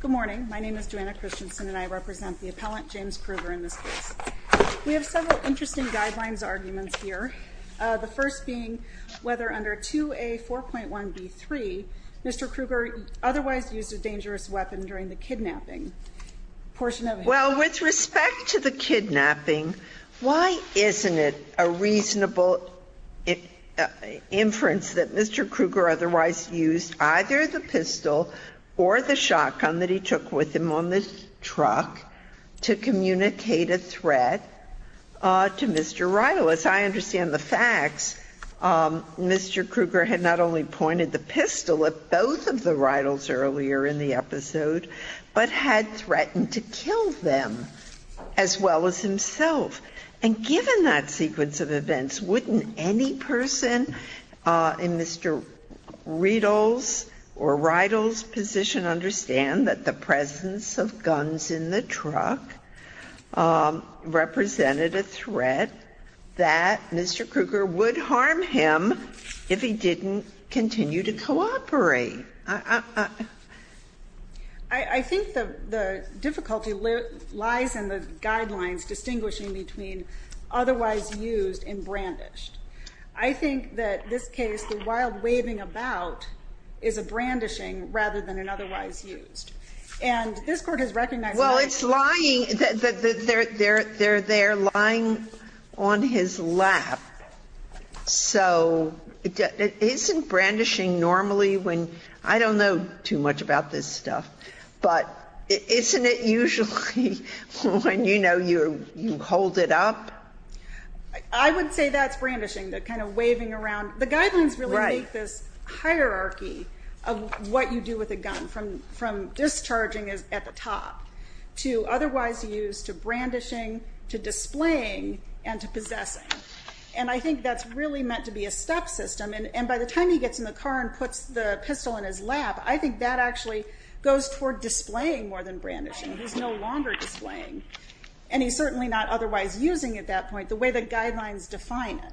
Good morning, my name is Joanna Christensen and I represent the appellant James Kruger in this case. We have several interesting guidelines arguments here The first being whether under 2a 4.1 b 3 mr. Kruger otherwise used a dangerous weapon during the kidnapping Portion of well with respect to the kidnapping. Why isn't it a reasonable? Inference that mr. Kruger otherwise used either the pistol or the shotgun that he took with him on this truck to communicate a threat To mr. Rytle as I understand the facts Mr. Kruger had not only pointed the pistol at both of the Rytles earlier in the episode But had threatened to kill them as well as himself And given that sequence of events wouldn't any person in mr. Riedel's or Rytle's position understand that the presence of guns in the truck Represented a threat that mr. Kruger would harm him if he didn't continue to cooperate I Think the the difficulty lies in the guidelines distinguishing between Otherwise used in brandished. I think that this case the wild waving about is a Brandishing rather than an otherwise used and this court has recognized. Well, it's lying that they're there They're there lying on his lap so Isn't brandishing normally when I don't know too much about this stuff, but isn't it usually When you know, you're you hold it up. I Would say that's brandishing that kind of waving around the guidelines really like this Hierarchy of what you do with a gun from from discharging is at the top to otherwise used to brandishing to displaying and to System and by the time he gets in the car and puts the pistol in his lap I think that actually goes toward displaying more than brandishing He's no longer displaying and he's certainly not otherwise using at that point the way the guidelines define it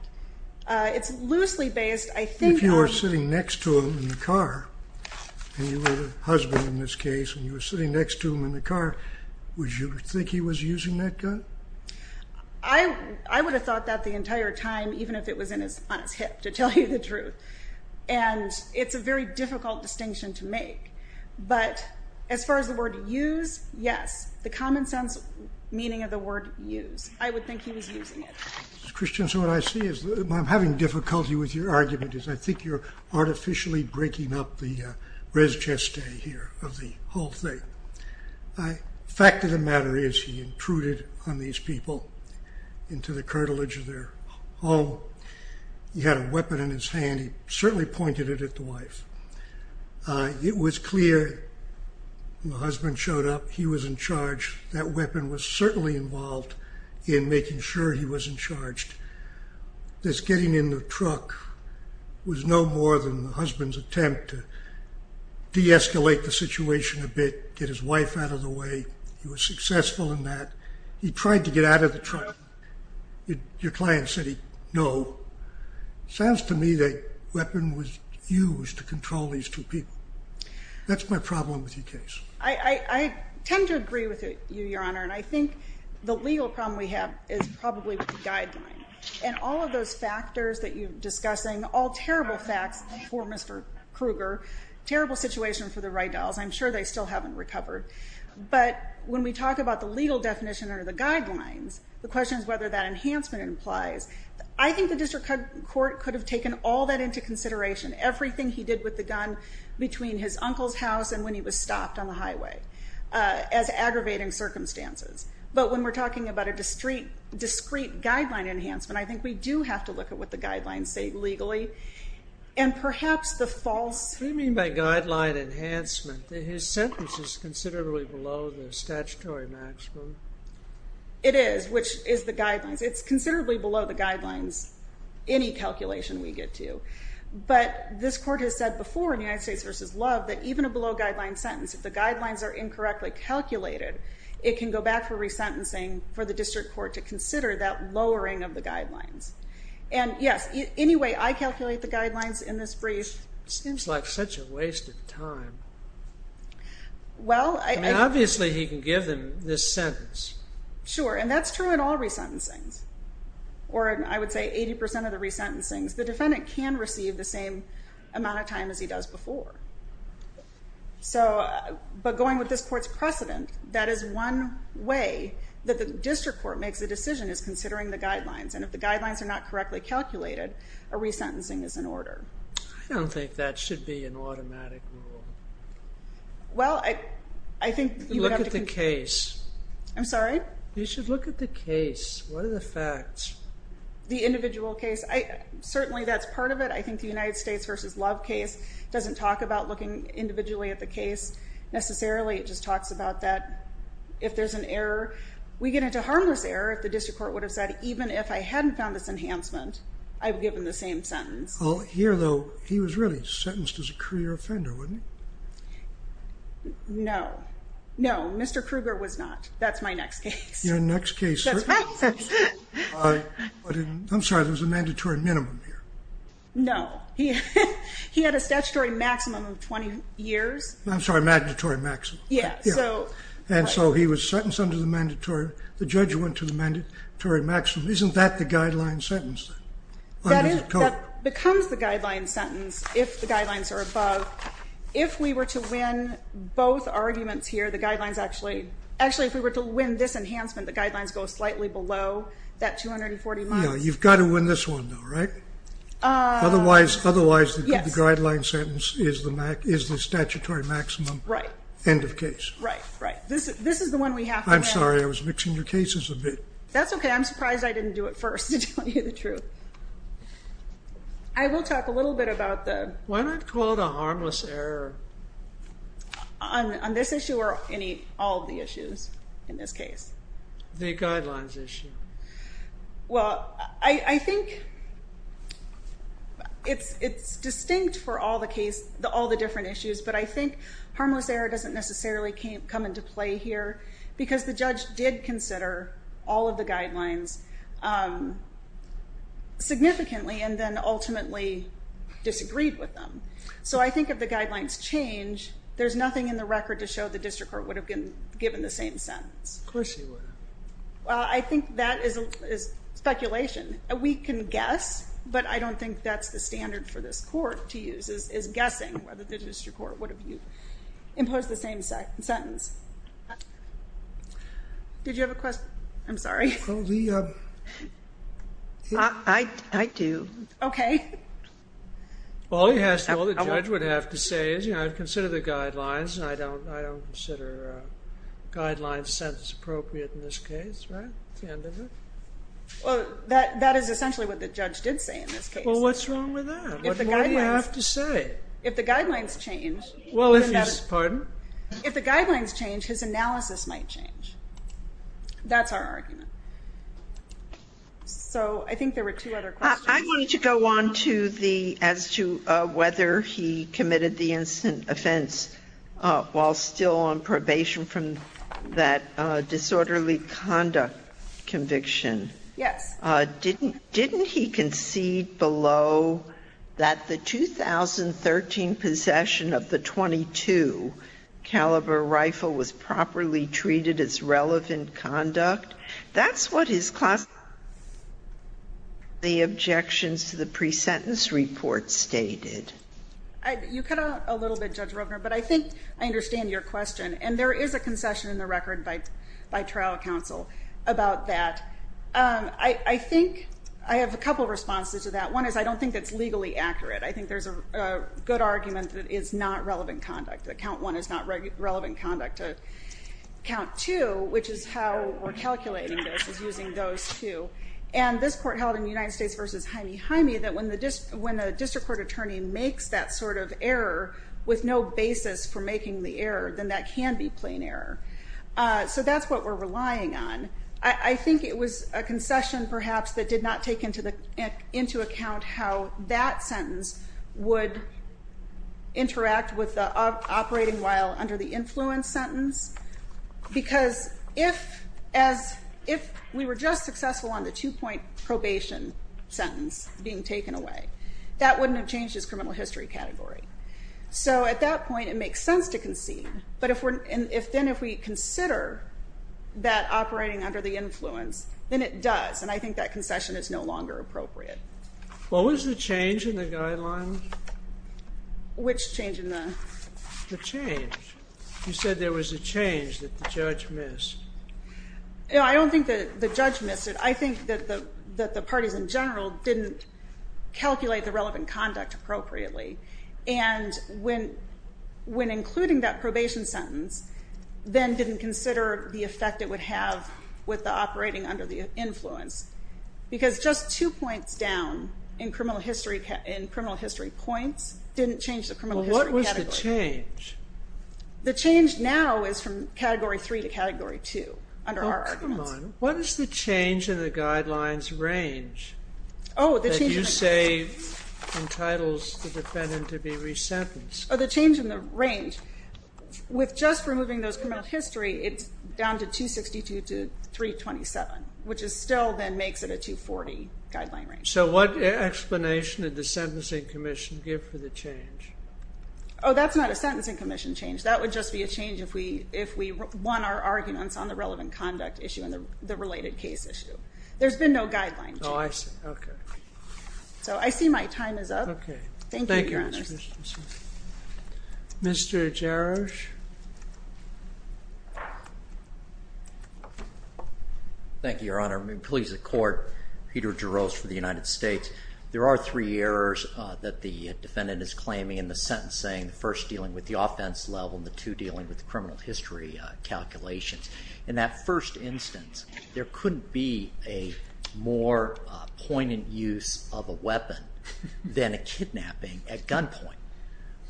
It's loosely based. I think you are sitting next to him in the car And you were a husband in this case and you were sitting next to him in the car Would you think he was using that gun? I Truth and It's a very difficult distinction to make but as far as the word use Yes, the common-sense meaning of the word use I would think he was using it Christian so what I see is I'm having difficulty with your argument is I think you're artificially breaking up the Resist a here of the whole thing. I Fact of the matter is he intruded on these people into the cartilage of their home He had a weapon in his hand he certainly pointed it at the wife It was clear My husband showed up. He was in charge that weapon was certainly involved in making sure he wasn't charged This getting in the truck was no more than the husband's attempt to De-escalate the situation a bit get his wife out of the way. He was successful in that he tried to get out of the truck Your client said he no Sounds to me that weapon was used to control these two people That's my problem with your case. I Tend to agree with it you your honor And I think the legal problem we have is probably with the guideline and all of those factors that you've discussing all terrible facts For mr. Kruger terrible situation for the right dolls I'm sure they still haven't recovered But when we talk about the legal definition or the guidelines the question is whether that enhancement implies I think the district court could have taken all that into consideration Everything he did with the gun between his uncle's house and when he was stopped on the highway As aggravating circumstances, but when we're talking about a discrete discrete guideline enhancement I think we do have to look at what the guidelines say legally and Statutory maximum It is which is the guidelines? It's considerably below the guidelines any calculation we get to But this court has said before in the United States versus love that even a below guideline sentence if the guidelines are incorrectly Calculated it can go back for resentencing for the district court to consider that lowering of the guidelines And yes, anyway, I calculate the guidelines in this brief seems like such a waste of time Well, I mean obviously he can give them this sentence sure and that's true in all resentencings Or I would say 80% of the resentencings the defendant can receive the same amount of time as he does before so but going with this courts precedent that is one way that the district court makes a decision is considering the guidelines and if the Guidelines are not correctly calculated a resentencing is in order. I don't think that should be an automatic Well, I I think you look at the case I'm sorry. You should look at the case. What are the facts? The individual case I certainly that's part of it. I think the United States versus love case doesn't talk about looking individually at the case Necessarily it just talks about that if there's an error We get into harmless error if the district court would have said even if I hadn't found this enhancement I've given the same sentence. Oh here though. He was really sentenced as a career offender wouldn't No, no, mr. Krueger was not that's my next case your next case I'm sorry. There's a mandatory minimum here. No, he he had a statutory maximum of 20 years I'm sorry mandatory maximum Yeah, so and so he was sentenced under the mandatory the judge went to the mandatory maximum. Isn't that the guideline sentence? That Becomes the guideline sentence if the guidelines are above if we were to win Both arguments here the guidelines actually actually if we were to win this enhancement the guidelines go slightly below that 240 No, you've got to win this one. All right Otherwise, otherwise the guideline sentence is the Mac is the statutory maximum right end of case, right? Right. This is this is the one we have. I'm sorry. I was mixing your cases a bit. That's okay I'm surprised. I didn't do it first to tell you the truth. I Will talk a little bit about the when I'd call it a harmless error On this issue or any all the issues in this case the guidelines issue well, I I think It's it's distinct for all the case the all the different issues But I think harmless error doesn't necessarily can't come into play here because the judge did consider all of the guidelines um Significantly and then ultimately Disagreed with them. So I think if the guidelines change There's nothing in the record to show the district court would have been given the same sentence. Of course you were well, I think that is a Speculation we can guess but I don't think that's the standard for this court to use is guessing whether the district court would have you imposed the same sentence I Do okay All he has to know the judge would have to say is, you know, I've considered the guidelines and I don't I don't consider Guidelines sentence appropriate in this case, right? Well that that is essentially what the judge did say in this case. Well, what's wrong with that? You have to say if the guidelines change well, it's pardon if the guidelines change his analysis might change That's our argument So, I think there were two other I'm going to go on to the as to whether he committed the instant offense while still on probation from that disorderly conduct Conviction. Yes, didn't didn't he concede below? that the 2013 possession of the 22 Caliber rifle was properly treated as relevant conduct. That's what his class The objections to the pre-sentence report stated You cut out a little bit judge Roper But I think I understand your question and there is a concession in the record bite by trial counsel about that I think I have a couple of responses to that one is I don't think that's legally accurate I think there's a good argument that is not relevant conduct that count one is not relevant conduct to count two which is how we're calculating this is using those two and This court held in the United States versus Jaime Jaime that when the just when a district court attorney makes that sort of error With no basis for making the error then that can be plain error So that's what we're relying on I think it was a concession perhaps that did not take into the into account how that sentence would Interact with the operating while under the influence sentence Because if as if we were just successful on the two-point probation Sentence being taken away that wouldn't have changed his criminal history category So at that point it makes sense to concede but if we're in if then if we consider That operating under the influence then it does and I think that concession is no longer appropriate What was the change in the guidelines? Which change in the change you said there was a change that the judge missed Yeah, I don't think that the judge missed it. I think that the that the parties in general didn't Calculate the relevant conduct appropriately and when when including that probation sentence Then didn't consider the effect it would have with the operating under the influence Because just two points down in criminal history in criminal history points didn't change the criminal category. What was the change? The change now is from category 3 to category 2 under our argument. What is the change in the guidelines range? Oh, did you say Entitles the defendant to be resentenced. Oh the change in the range With just removing those criminal history. It's down to 262 to 327 which is still then makes it a 240 guideline range. So what explanation did the Sentencing Commission give for the change? Oh That's not a Sentencing Commission change That would just be a change if we if we won our arguments on the relevant conduct issue and the related case issue There's been no guidelines. Oh, I see. Okay, so I see my time is up. Okay. Thank you Mr. Jarosz Thank You Your Honor, I'm pleased to court Peter Jarosz for the United States There are three errors that the defendant is claiming in the sentence saying the first dealing with the offense level and the two dealing with the criminal history Calculations. In that first instance, there couldn't be a more poignant use of a weapon than a kidnapping at gunpoint.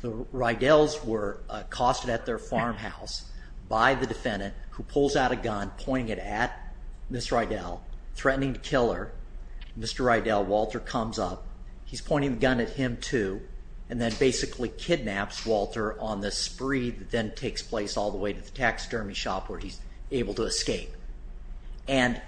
The Rydells were accosted at their farmhouse by the defendant who pulls out a gun pointing it at Miss Rydell threatening to kill her. Mr. Rydell, Walter comes up He's pointing the gun at him too And then basically kidnaps Walter on the spree that then takes place all the way to the taxidermy shop where he's able to escape and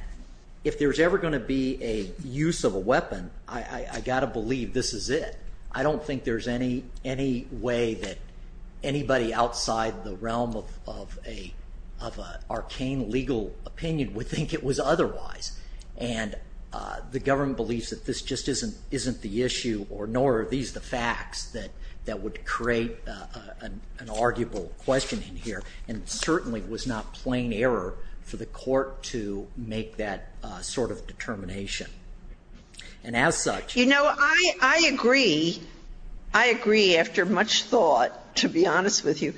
If there's ever going to be a use of a weapon, I got to believe this is it I don't think there's any any way that anybody outside the realm of a arcane legal opinion would think it was otherwise and The government believes that this just isn't isn't the issue or nor are these the facts that that would create an arguable question in here and certainly was not plain error for the court to make that sort of determination And as such, you know, I I agree. I Agree after much thought to be honest with you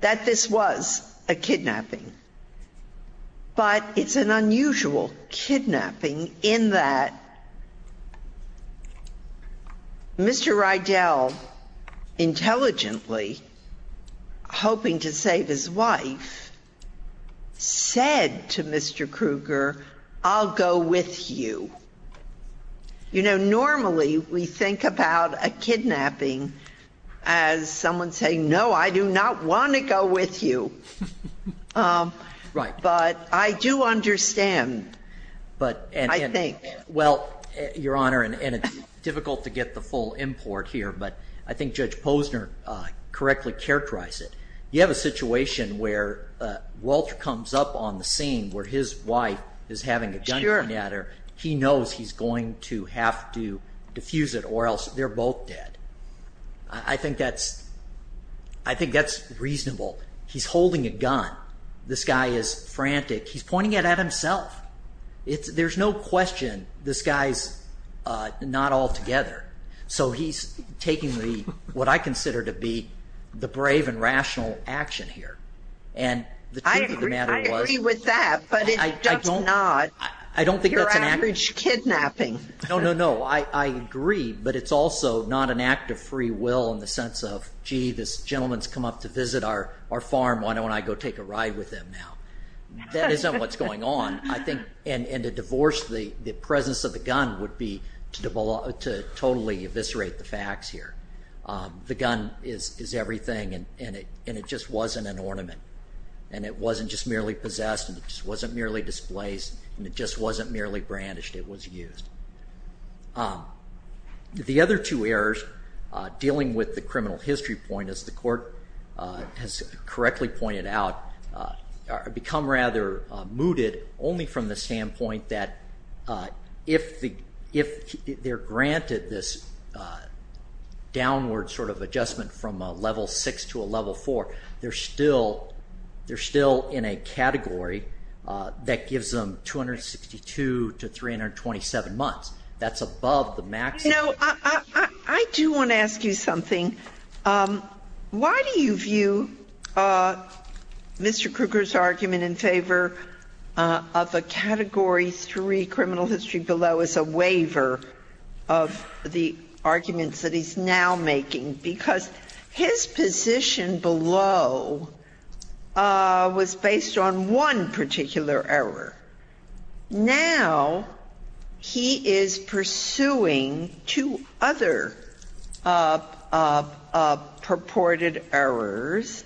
that this was a kidnapping But it's an unusual Kidnapping in that Mr. Rydell Intelligently Hoping to save his wife Said to mr. Krueger, I'll go with you you know normally we think about a kidnapping as Someone saying no, I do not want to go with you Right, but I do understand But and I think well your honor and it's difficult to get the full import here But I think judge Posner Correctly characterized it you have a situation where? Walter comes up on the scene where his wife is having a gun. You're a matter He knows he's going to have to diffuse it or else they're both dead. I think that's I This guy is frantic he's pointing it at himself It's there's no question. This guy's Not all together. So he's taking the what I consider to be the brave and rational action here and With that but I don't know I don't think that's an average kidnapping. No, no No, I agree But it's also not an act of free will in the sense of gee this gentlemen's come up to visit our our farm Why don't I go take a ride with them now? That isn't what's going on I think and and to divorce the the presence of the gun would be to develop to totally eviscerate the facts here The gun is is everything and it and it just wasn't an ornament and it wasn't just merely possessed It just wasn't merely displaced and it just wasn't merely brandished. It was used The other two errors Dealing with the criminal history point as the court has correctly pointed out become rather mooted only from the standpoint that if the if they're granted this Downward sort of adjustment from a level six to a level four. They're still They're still in a category That gives them 262 to 327 months that's above the max I do want to ask you something Why do you view? Mr. Kruger's argument in favor of the category three criminal history below is a waiver of the arguments that he's now making because his position below Was based on one particular error now He is pursuing two other Purported errors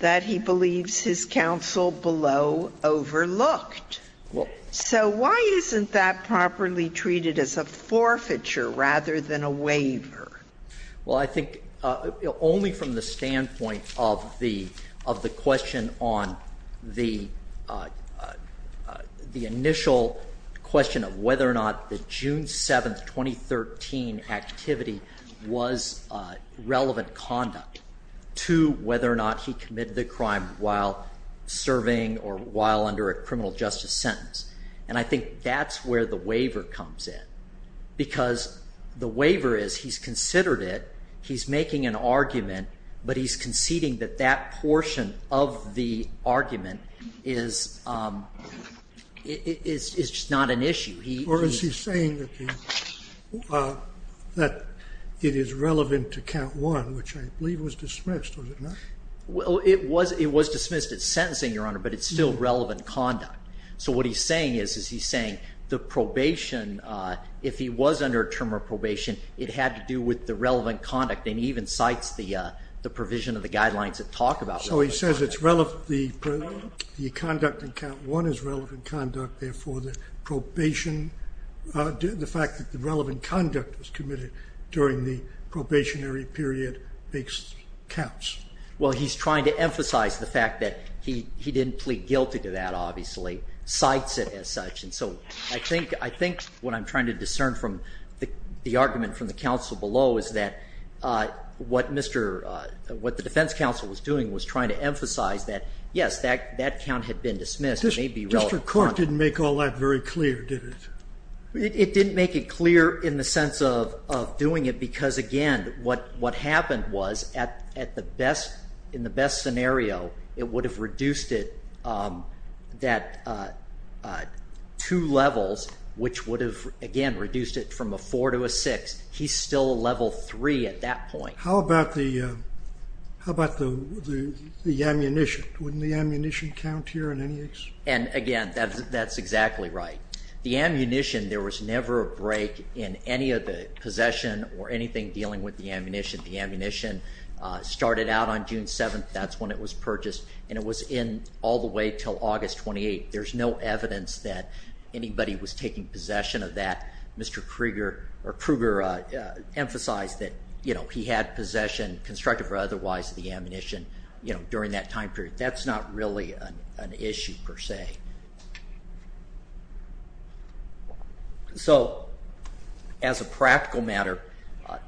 that he believes his counsel below Overlooked. Well, so why isn't that properly treated as a forfeiture rather than a waiver? well, I think only from the standpoint of the of the question on the The initial question of whether or not the June 7th 2013 activity was relevant conduct to whether or not he committed the crime while Serving or while under a criminal justice sentence, and I think that's where the waiver comes in Because the waiver is he's considered it He's making an argument, but he's conceding that that portion of the argument is It's just not an issue he or is he saying That it is relevant to count one, which I believe was dismissed Well, it was it was dismissed. It's sentencing your honor, but it's still relevant conduct So what he's saying is is he's saying the probation if he was under a term of probation it had to do with the relevant conduct and even cites the provision of the guidelines that talk about so he says it's relevant the Conduct and count one is relevant conduct. Therefore the probation The fact that the relevant conduct was committed during the probationary period makes counts Well, he's trying to emphasize the fact that he he didn't plead guilty to that obviously Cites it as such and so I think I think what I'm trying to discern from the the argument from the council below is that? What mr? What the defense council was doing was trying to emphasize that yes that that count had been dismissed District court didn't make all that very clear did it? It didn't make it clear in the sense of doing it because again What what happened was at at the best in the best scenario it would have reduced it that Two levels which would have again reduced it from a four to a six. He's still a level three at that point how about the how about the The ammunition wouldn't the ammunition count here in any case and again, that's that's exactly right the ammunition There was never a break in any of the possession or anything dealing with the ammunition the ammunition Started out on June 7th. That's when it was purchased and it was in all the way till August 28 There's no evidence that anybody was taking possession of that. Mr. Krieger or Kruger Emphasized that you know, he had possession constructive or otherwise the ammunition, you know during that time period that's not really an issue per se So as a practical matter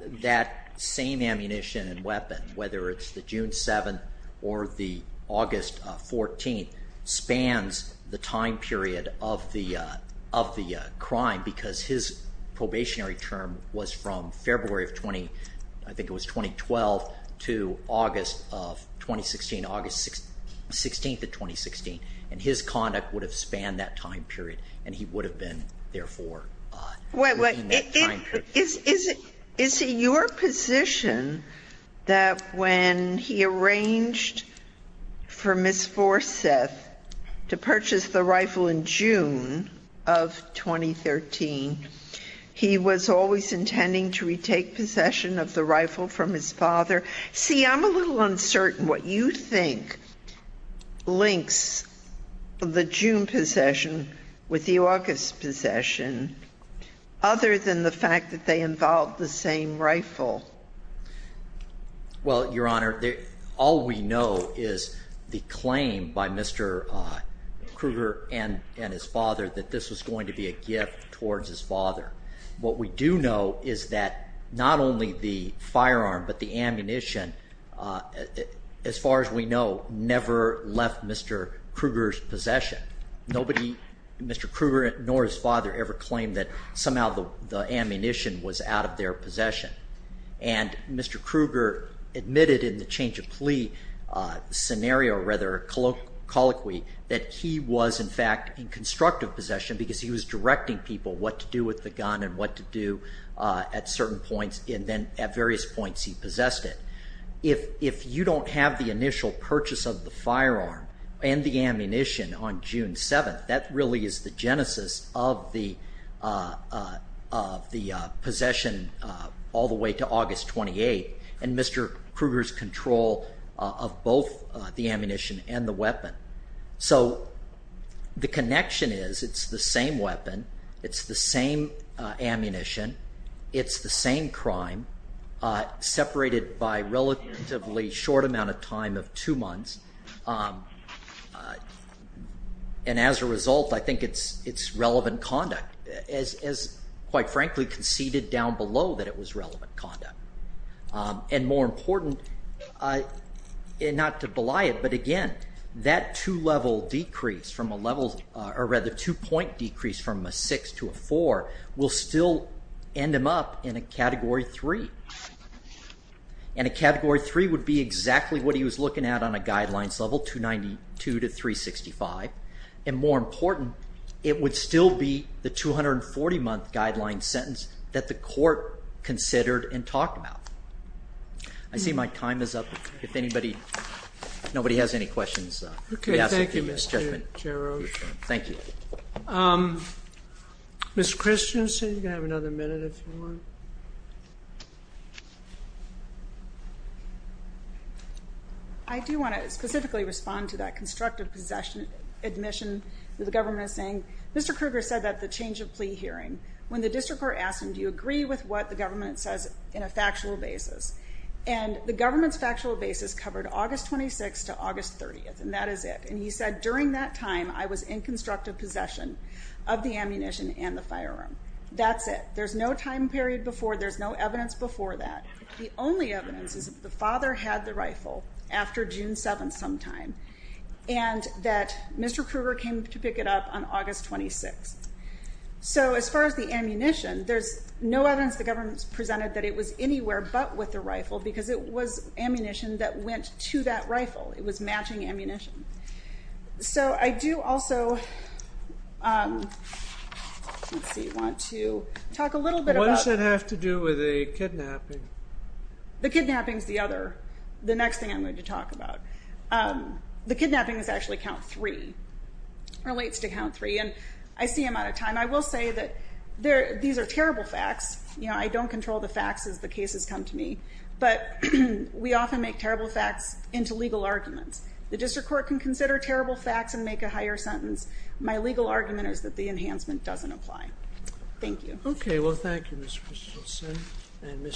That same ammunition and weapon whether it's the June 7th or the August 14th spans the time period of the of the crime because his Probationary term was from February of 20. I think it was 2012 to August of 2016 August 16th of 2016 and his conduct would have spanned that time period and he would have been there for Wait, wait, is it is it your position that? when he arranged for Miss Forsyth to purchase the rifle in June of 2013 He was always intending to retake possession of the rifle from his father. See I'm a little uncertain what you think links the June possession with the August possession Other than the fact that they involved the same rifle Well, your honor there all we know is the claim by mr. Kruger and and his father that this was going to be a gift towards his father What we do know is that not only the firearm, but the ammunition As far as we know never left. Mr. Kruger's possession. Nobody mr Kruger nor his father ever claimed that somehow the ammunition was out of their possession and Mr. Kruger admitted in the change of plea Scenario rather Colloquy that he was in fact in constructive possession because he was directing people what to do with the gun and what to do At certain points and then at various points he possessed it if if you don't have the initial purchase of the firearm and the ammunition on June 7th, that really is the genesis of the The possession all the way to August 28 and mr. Kruger's control of both the ammunition and the weapon, so The connection is it's the same weapon. It's the same ammunition. It's the same crime Separated by relatively short amount of time of two months And As a result, I think it's it's relevant conduct as quite frankly conceded down below that it was relevant conduct and more important I Not to belie it But again that two-level decrease from a level or rather two-point decrease from a six to a four will still end him up in a category three and a category three would be exactly what he was looking at on a guidelines level 292 to 365 and more important it would still be the 240 month guideline sentence that the court considered and talked about I See my time is up if anybody nobody has any questions. Okay. Thank you. Mr. Chairman. Thank you Miss Christian, so you can have another minute if you want I do want to specifically respond to that constructive possession admission. The government is saying mr Kruger said that the change of plea hearing when the district court asked him Do you agree with what the government says in a factual basis and the government's factual basis covered August 26 to August 30th? And that is it and he said during that time. I was in constructive possession of the ammunition and the firearm. That's it There's no time period before there's no evidence before that The only evidence is the father had the rifle after June 7 sometime and that mr Kruger came to pick it up on August 26 So as far as the ammunition there's no evidence the government's presented that it was anywhere but with the rifle because it was Ammunition that went to that rifle. It was matching ammunition so I do also See you want to talk a little bit what does it have to do with a kidnapping? The kidnappings the other the next thing I'm going to talk about The kidnapping is actually count three Relates to count three and I see him out of time. I will say that there these are terrible facts You know, I don't control the facts as the cases come to me But we often make terrible facts into legal arguments The district court can consider terrible facts and make a higher sentence. My legal argument is that the enhancement doesn't apply. Thank you Okay. Well, thank you